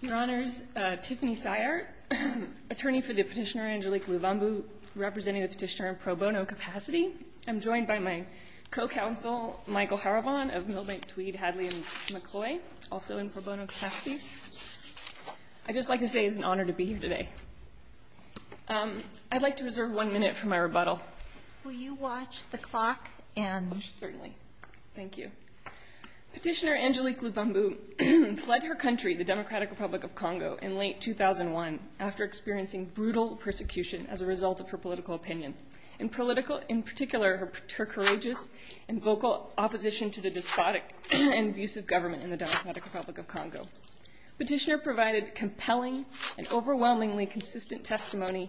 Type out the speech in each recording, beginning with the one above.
Your Honors, Tiffany Syart, attorney for the petitioner Angelique Luvumbu, representing the petitioner in pro bono capacity. I'm joined by my co-counsel Michael Haravon of Milbank, Tweed, Hadley & McCloy, also in pro bono capacity. I'd just like to say it's an honor to be here today. I'd like to reserve one minute for my rebuttal. Will you watch the clock and... Certainly. Thank you. Petitioner Angelique Luvumbu fled her country, the Democratic Republic of Congo, in late 2001 after experiencing brutal persecution as a result of her political opinion. In particular, her courageous and vocal opposition to the despotic and abusive government in the Democratic Republic of Congo. Petitioner provided compelling and overwhelmingly consistent testimony.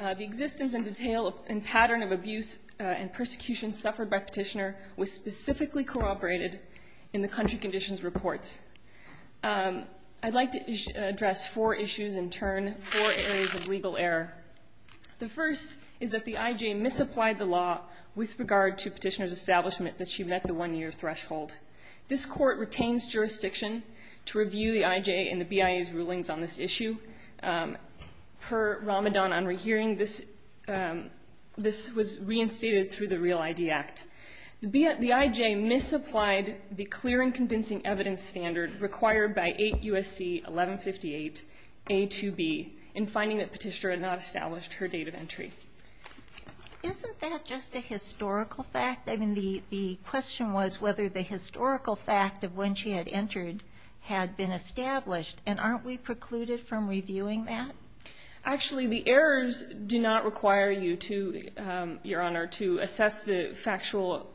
The existence and detail and pattern of abuse and persecution suffered by petitioner was specifically corroborated in the country conditions reports. I'd like to address four issues in turn, four areas of legal error. The first is that the IJ misapplied the law with regard to petitioner's establishment that she met the one year threshold. This court retains jurisdiction to review the IJ and the BIA's rulings on this issue. Per Ramadan on rehearing, this was reinstated through the Real ID Act. The IJ misapplied the clear and convincing evidence standard required by 8 U.S.C. 1158 A2B in finding that petitioner had not established her date of entry. Isn't that just a historical fact? I mean, the question was whether the historical fact of when she had entered had been established. And aren't we precluded from reviewing that? Actually, the errors do not require you to, Your Honor, to assess the factual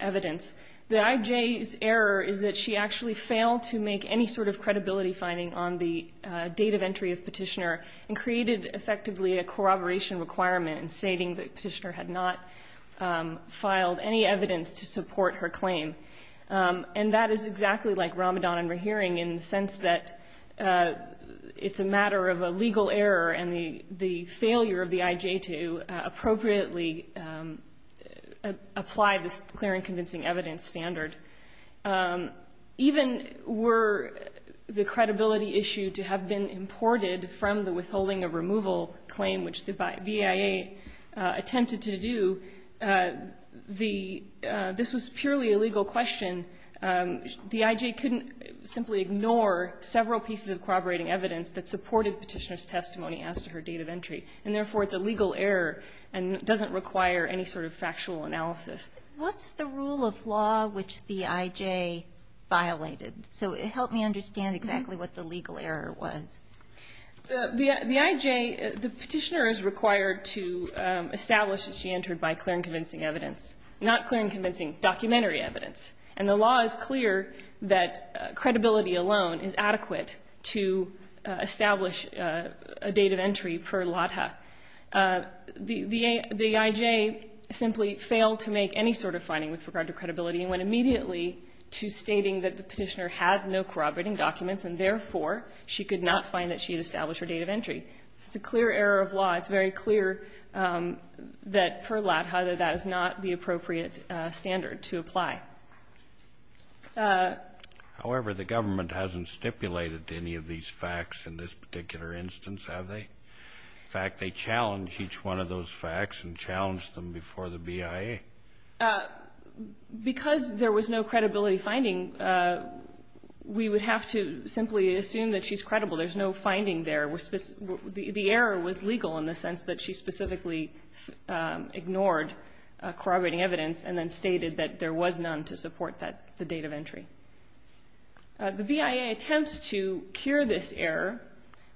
evidence. The IJ's error is that she actually failed to make any sort of credibility finding on the date of entry of petitioner and created effectively a corroboration requirement stating that petitioner had not filed any evidence to support her claim. And that is exactly like Ramadan on rehearing in the sense that it's a matter of a legal error and the failure of the IJ to appropriately apply this clear and convincing evidence standard. Even were the credibility issue to have been imported from the withholding of removal claim, which the BIA attempted to do, this was purely a legal question. The IJ couldn't simply ignore several pieces of corroborating evidence that supported petitioner's testimony as to her date of entry. And therefore, it's a legal error and doesn't require any sort of factual analysis. What's the rule of law which the IJ violated? So help me understand exactly what the legal error was. The IJ, the petitioner is required to establish that she entered by clear and convincing evidence, not clear and convincing documentary evidence. And the law is clear that credibility alone is adequate to establish a date of entry per lota. The IJ simply failed to make any sort of finding with regard to credibility and went immediately to stating that the petitioner had no corroborating documents, and therefore she could not find that she had established her date of entry. It's a clear error of law. It's very clear that per lota that is not the appropriate standard to apply. However, the government hasn't stipulated any of these facts in this particular instance, have they? In fact, they challenged each one of those facts and challenged them before the BIA. Because there was no credibility finding, we would have to simply assume that she's credible. There's no finding there. The error was legal in the sense that she specifically ignored corroborating evidence and then stated that there was none to support the date of entry. The BIA attempts to cure this error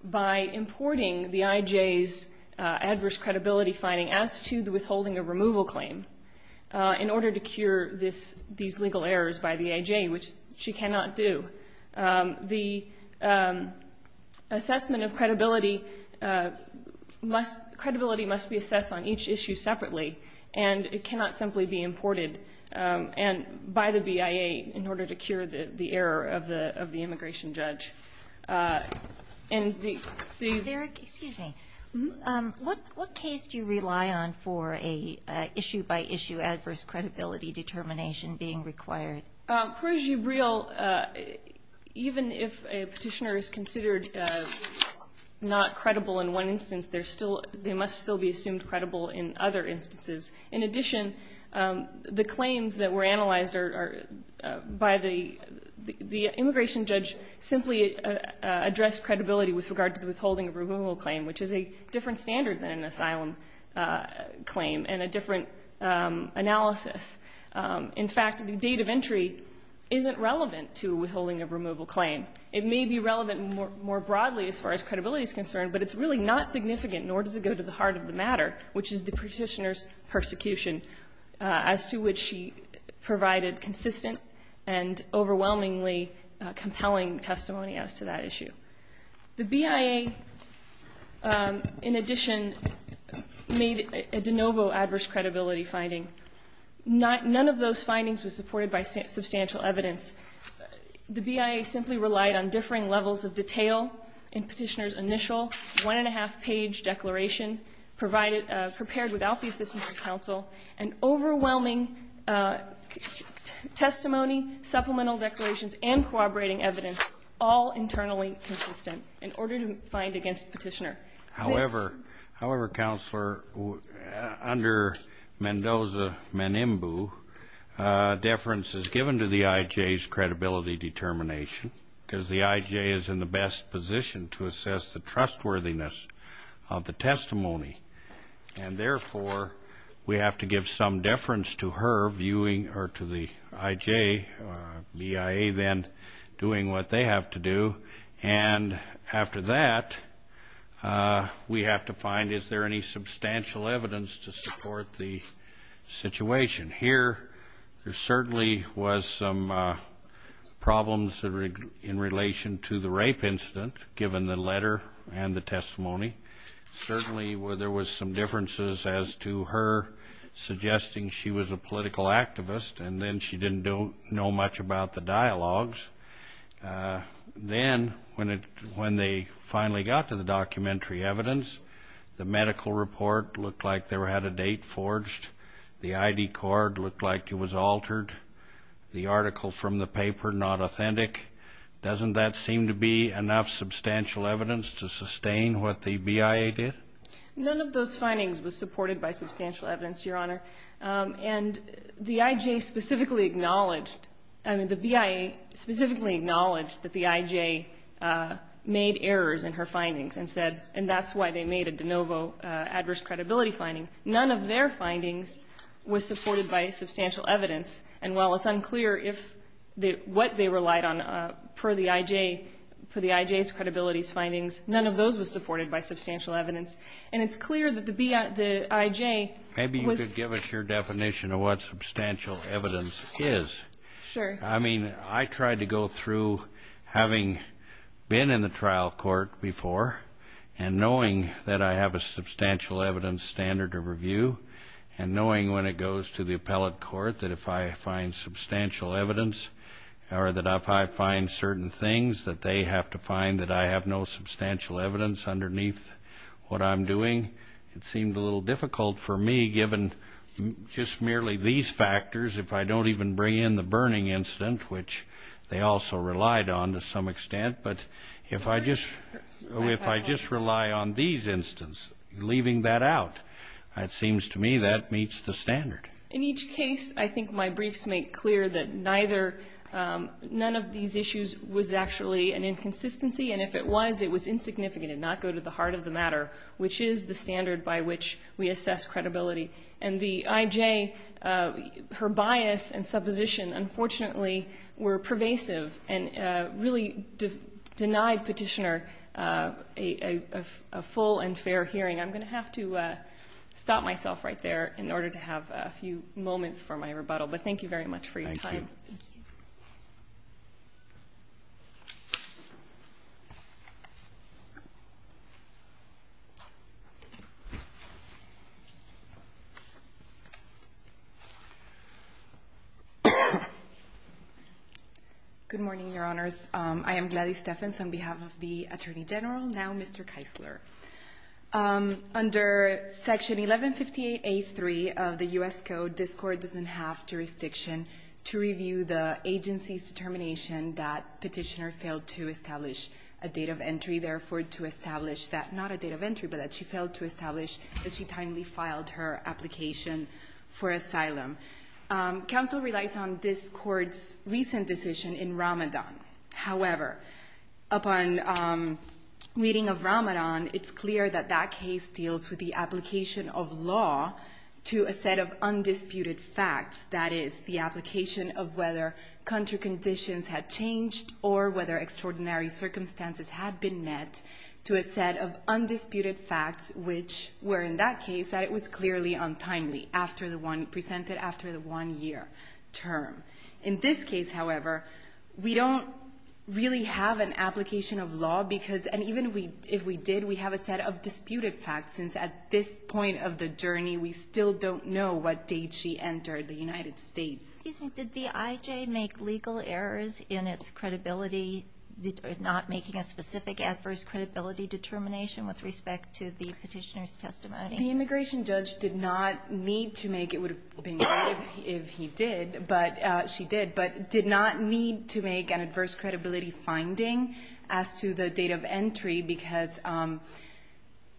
by importing the IJ's adverse credibility finding as to the withholding of removal claim in order to cure these legal errors by the IJ, which she cannot do. The assessment of credibility must be assessed on each issue separately, and it cannot simply be imported by the BIA in order to cure the error of the immigration judge. And the ---- Sotomayor, excuse me. What case do you rely on for an issue-by-issue adverse credibility determination being required? Parajib-Real, even if a Petitioner is considered not credible in one instance, they're still they must still be assumed credible in other instances. In addition, the claims that were analyzed are by the immigration judge simply address credibility with regard to the withholding of removal claim, which is a different standard than an asylum claim and a different analysis. In fact, the date of entry isn't relevant to withholding of removal claim. It may be relevant more broadly as far as credibility is concerned, but it's really not significant, nor does it go to the heart of the matter, which is the Petitioner's persecution, as to which she provided consistent and overwhelmingly compelling testimony as to that issue. The BIA, in addition, made a de novo adverse credibility finding. None of those findings was supported by substantial evidence. The BIA simply relied on differing levels of detail in Petitioner's initial one-and-a-half-page declaration prepared without the assistance of counsel, and overwhelming testimony, supplemental declarations, and corroborating evidence, all internally consistent, in order to find against Petitioner. However, however, Counselor, under Mendoza-Manimbu, deference is given to the IJ's credibility determination, because the IJ is in the best position to assess the trustworthiness of the testimony. And, therefore, we have to give some deference to her viewing, or to the IJ, BIA then, doing what they have to do. And after that, we have to find is there any substantial evidence to support the situation. Here, there certainly was some problems in relation to the rape incident, given the letter and the testimony. Certainly, there was some differences as to her suggesting she was a political activist, and then she didn't know much about the dialogues. Then, when they finally got to the documentary evidence, the medical report looked like there had a date forged. The ID card looked like it was altered. The article from the paper not authentic. Doesn't that seem to be enough substantial evidence to sustain what the BIA did? None of those findings was supported by substantial evidence, Your Honor. And the IJ specifically acknowledged, I mean, the BIA specifically acknowledged that the IJ made errors in her findings and said, and that's why they made a de novo adverse credibility finding. None of their findings was supported by substantial evidence. And while it's unclear if what they relied on per the IJ, per the IJ's credibility findings, none of those was supported by substantial evidence. And it's clear that the IJ was ---- Maybe you could give us your definition of what substantial evidence is. Sure. I mean, I tried to go through having been in the trial court before and knowing that I have a substantial evidence standard of review and knowing when it goes to the appellate court that if I find substantial evidence or that if I find certain things that they have to find that I have no substantial evidence underneath what I'm doing. It seemed a little difficult for me, given just merely these factors, if I don't even bring in the burning incident, which they also relied on to some extent. But if I just rely on these instances, leaving that out, it seems to me that meets the standard. In each case, I think my briefs make clear that neither ---- none of these issues was actually an inconsistency. And if it was, it was insignificant and not go to the heart of the matter, which is the standard by which we assess credibility. And the IJ, her bias and supposition, unfortunately, were pervasive and really denied Petitioner a full and fair hearing. I'm going to have to stop myself right there in order to have a few moments for my rebuttal. But thank you very much for your time. Thank you. Good morning, Your Honors. I am Gladys Stephens on behalf of the Attorney General, now Mr. Keisler. Under Section 1158A3 of the U.S. Code, this Court doesn't have jurisdiction to review the agency's determination that Petitioner failed to establish a date of entry, therefore to establish that not a date of entry, but that she failed to establish that she timely filed her application for asylum. Counsel relies on this Court's recent decision in Ramadan. However, upon reading of Ramadan, it's clear that that case deals with the application of law to a set of undisputed facts, that is, the application of whether country conditions had changed or whether extraordinary circumstances had been met, to a set of undisputed facts which were, in that case, that it was clearly untimely after the one presented after the one year term. In this case, however, we don't really have an application of law because and even if we did, we have a set of disputed facts, since at this point of the journey we still don't know what date she entered the United States. Excuse me. Did the IJ make legal errors in its credibility, not making a specific adverse credibility determination with respect to the Petitioner's testimony? The immigration judge did not need to make it would have been right if he did, but she did, but did not need to make an adverse credibility finding as to the date of entry because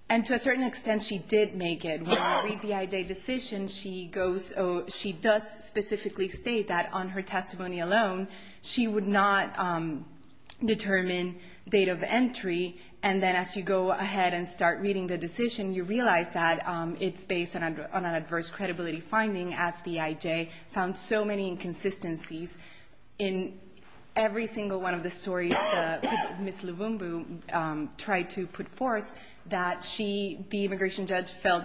and to a certain extent she did make it. When we read the IJ decision, she does specifically state that on her testimony alone, she would not determine date of entry. And then as you go ahead and start reading the decision, you realize that it's based on an adverse credibility finding as the IJ found so many inconsistencies in every single one of the stories that Ms. Levumbu tried to put forth that the immigration judge felt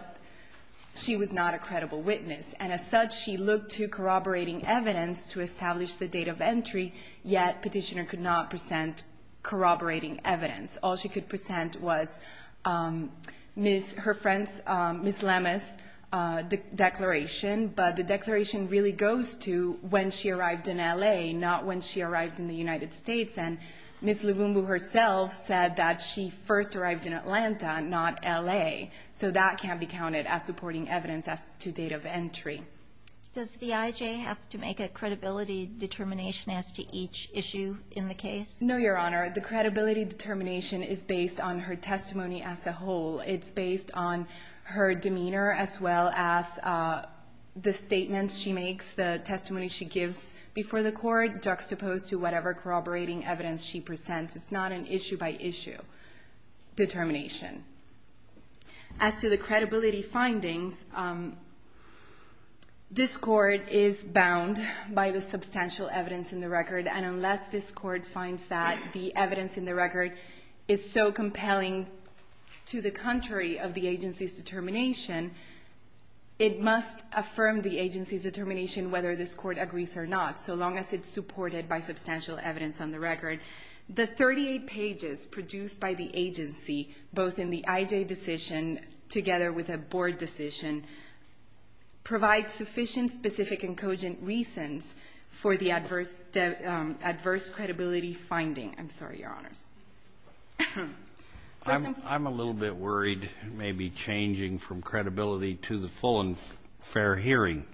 she was not a credible witness. And as such, she looked to corroborating evidence to establish the date of entry, yet Petitioner could not present corroborating evidence. All she could present was her friend's, Ms. Lemus' declaration, but the declaration really goes to when she arrived in L.A., not when she arrived in the United States. And Ms. Levumbu herself said that she first arrived in Atlanta, not L.A., so that can't be counted as supporting evidence as to date of entry. Does the IJ have to make a credibility determination as to each issue in the case? No, Your Honor. The credibility determination is based on her testimony as a whole. It's based on her demeanor as well as the statements she makes, the testimony she gives before the court, juxtaposed to whatever corroborating evidence she presents. It's not an issue-by-issue determination. As to the credibility findings, this Court is bound by the substantial evidence in the record, and unless this Court finds that the evidence in the record is so compelling to the contrary of the agency's determination, it must affirm the agency's determination whether this Court agrees or not, so long as it's supported by substantial evidence on the record. The 38 pages produced by the agency, both in the IJ decision together with a Board decision, provide sufficient specific and cogent reasons for the adverse credibility finding. I'm sorry, Your Honors. I'm a little bit worried, maybe changing from credibility to the full and fair hearing.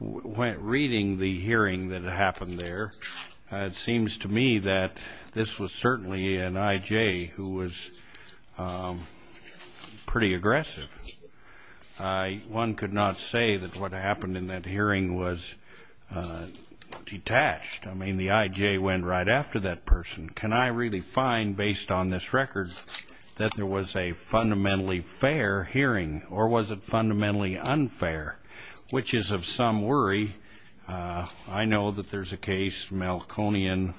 Reading the hearing that happened there, it seems to me that this was certainly an IJ who was pretty aggressive. One could not say that what happened in that hearing was detached. I mean, the IJ went right after that person. Can I really find, based on this record, that there was a fundamentally fair hearing, or was it fundamentally unfair, which is of some worry? I know that there's a case, Malconian,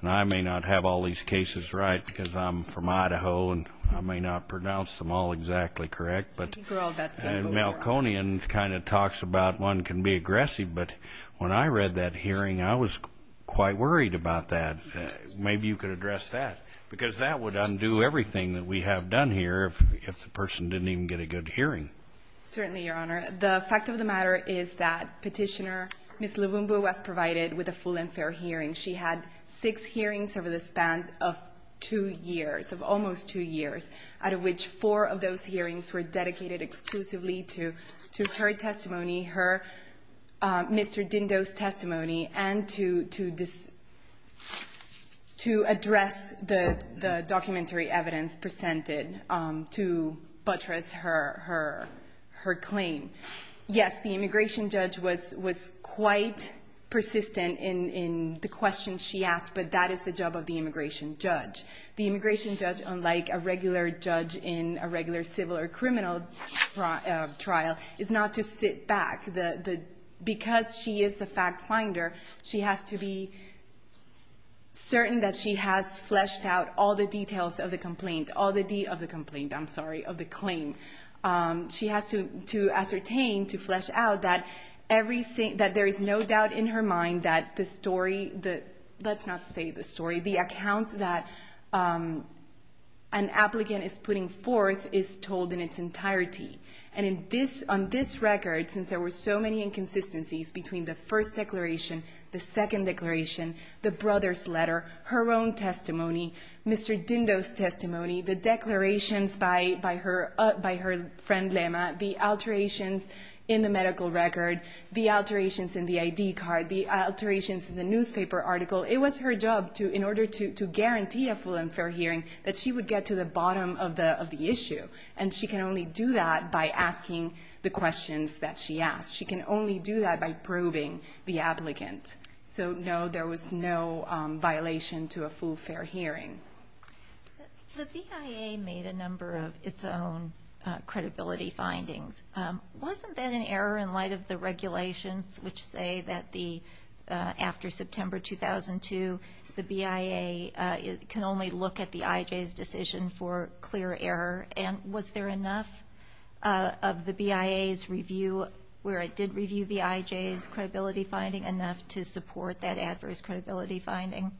and I may not have all these cases right because I'm from Idaho, and I may not pronounce them all exactly correct, but Malconian kind of talks about one can be aggressive, but when I read that hearing, I was quite worried about that. Maybe you could address that, because that would undo everything that we have done here if the person didn't even get a good hearing. Certainly, Your Honor. The fact of the matter is that Petitioner Ms. Levumbo was provided with a full and fair hearing. She had six hearings over the span of two years, of almost two years, out of which four of those hearings were dedicated exclusively to her testimony, her Mr. Dindo's testimony, and to address the documentary evidence presented to buttress her claim. Yes, the immigration judge was quite persistent in the questions she asked, but that is the job of the immigration judge. The immigration judge, unlike a regular judge in a regular civil or criminal trial, is not to sit back. Because she is the fact finder, she has to be certain that she has fleshed out all the details of the complaint, all the D of the complaint, I'm sorry, of the claim. She has to ascertain, to flesh out that there is no doubt in her mind that the story, let's not say the story, the account that an applicant is putting forth is told in its entirety. And on this record, since there were so many inconsistencies between the first declaration, the second declaration, the brother's letter, her own testimony, Mr. Dindo's testimony, the declarations by her friend Lema, the alterations in the medical record, the alterations in the ID card, the alterations in the newspaper article, it was her job, in order to guarantee a full and fair hearing, that she would get to the bottom of the issue. And she can only do that by asking the questions that she asked. She can only do that by probing the applicant. So, no, there was no violation to a full, fair hearing. The BIA made a number of its own credibility findings. Wasn't that an error in light of the regulations which say that after September 2002, the BIA can only look at the IJ's decision for clear error? And was there enough of the BIA's review, where it did review the IJ's credibility finding, enough to support that adverse credibility finding?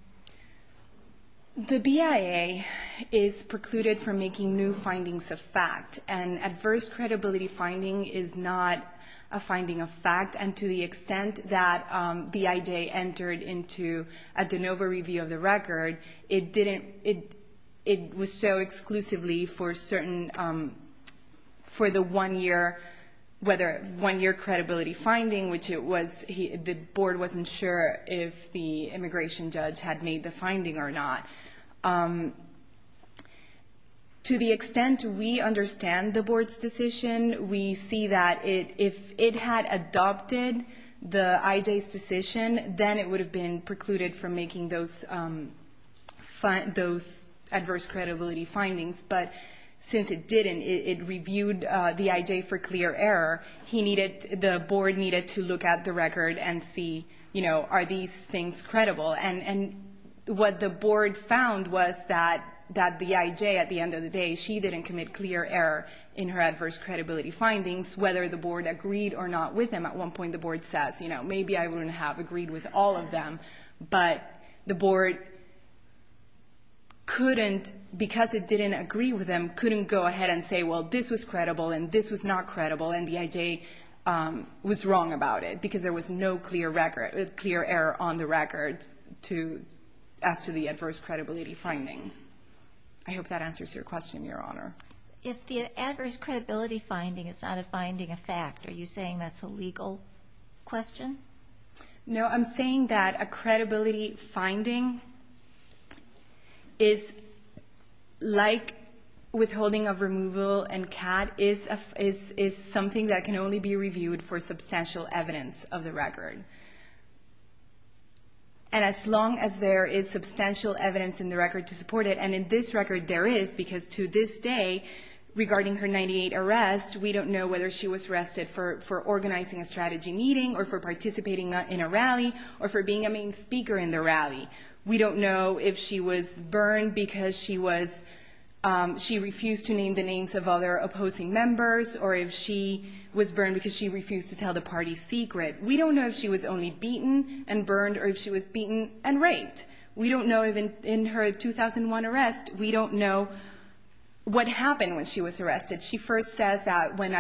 The BIA is precluded from making new findings of fact, and adverse credibility finding is not a finding of fact, and to the extent that the IJ entered into a de novo review of the record, it was so exclusively for the one-year credibility finding, which the board wasn't sure if the immigration judge had made the finding or not. To the extent we understand the board's decision, we see that if it had adopted the IJ's decision, then it would have been precluded from making those adverse credibility findings. But since it didn't, it reviewed the IJ for clear error. The board needed to look at the record and see, you know, are these things credible? And what the board found was that the IJ, at the end of the day, she didn't commit clear error in her adverse credibility findings, whether the board agreed or not with them. At one point, the board says, you know, maybe I wouldn't have agreed with all of them. But the board couldn't, because it didn't agree with them, couldn't go ahead and say, well, this was credible and this was not credible, and the IJ was wrong about it because there was no clear error on the records as to the adverse credibility findings. I hope that answers your question, Your Honor. If the adverse credibility finding is not a finding, a fact, are you saying that's a legal question? No, I'm saying that a credibility finding is like withholding of removal, and CAD is something that can only be reviewed for substantial evidence of the record. And as long as there is substantial evidence in the record to support it, and in this record there is, because to this day, regarding her 98 arrest, we don't know whether she was arrested for organizing a strategy meeting or for participating in a rally or for being a main speaker in the rally. We don't know if she was burned because she refused to name the names of other opposing members or if she was burned because she refused to tell the party's secret. We don't know if she was only beaten and burned or if she was beaten and raped. We don't know if in her 2001 arrest, we don't know what happened when she was arrested. She first says that when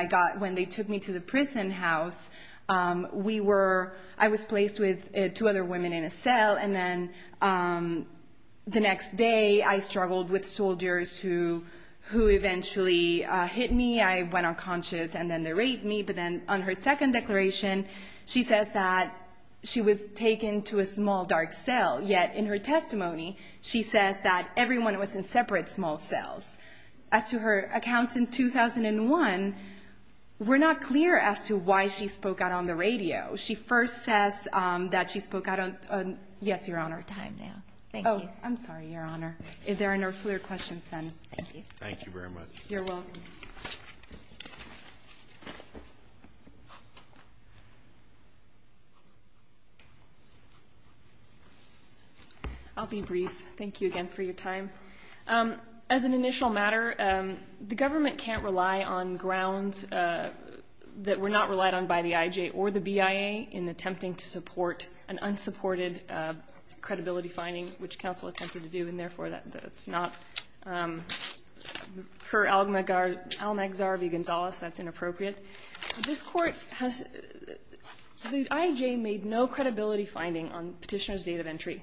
they took me to the prison house, I was placed with two other women in a cell, and then the next day I struggled with soldiers who eventually hit me. I went unconscious, and then they raped me. But then on her second declaration, she says that she was taken to a small dark cell. Yet in her testimony, she says that everyone was in separate small cells. As to her accounts in 2001, we're not clear as to why she spoke out on the radio. She first says that she spoke out on—yes, Your Honor. We're out of time now. Thank you. Oh, I'm sorry, Your Honor. If there are no further questions, then thank you. Thank you very much. You're welcome. I'll be brief. Thank you again for your time. As an initial matter, the government can't rely on grounds that were not relied on by the IJ or the BIA in attempting to support an unsupported credibility finding, which counsel attempted to do, and therefore that's not—per Al-Nagzhar v. Gonzales, that's inappropriate. This court has—the IJ made no credibility finding on petitioner's date of entry.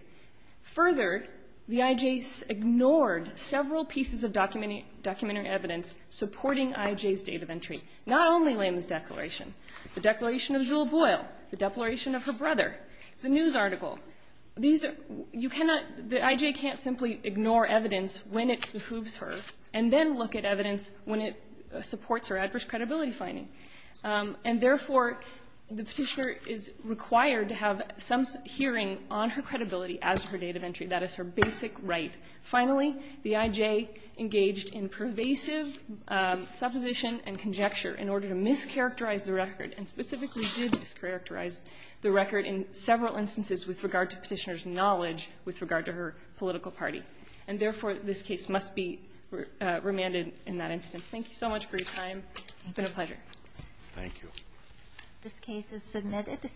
Further, the IJ ignored several pieces of documentary evidence supporting IJ's date of entry, not only Lehman's declaration, the declaration of Jewell Boyle, the declaration of her brother, the news article. These are—you cannot—the IJ can't simply ignore evidence when it behooves her and then look at evidence when it supports her adverse credibility finding. And therefore, the petitioner is required to have some hearing on her credibility as to her date of entry. That is her basic right. Finally, the IJ engaged in pervasive supposition and conjecture in order to mischaracterize the record, and specifically did mischaracterize the record in several instances with regard to petitioner's knowledge with regard to her political party. And therefore, this case must be remanded in that instance. Thank you so much for your time. It's been a pleasure. Thank you. This case is submitted.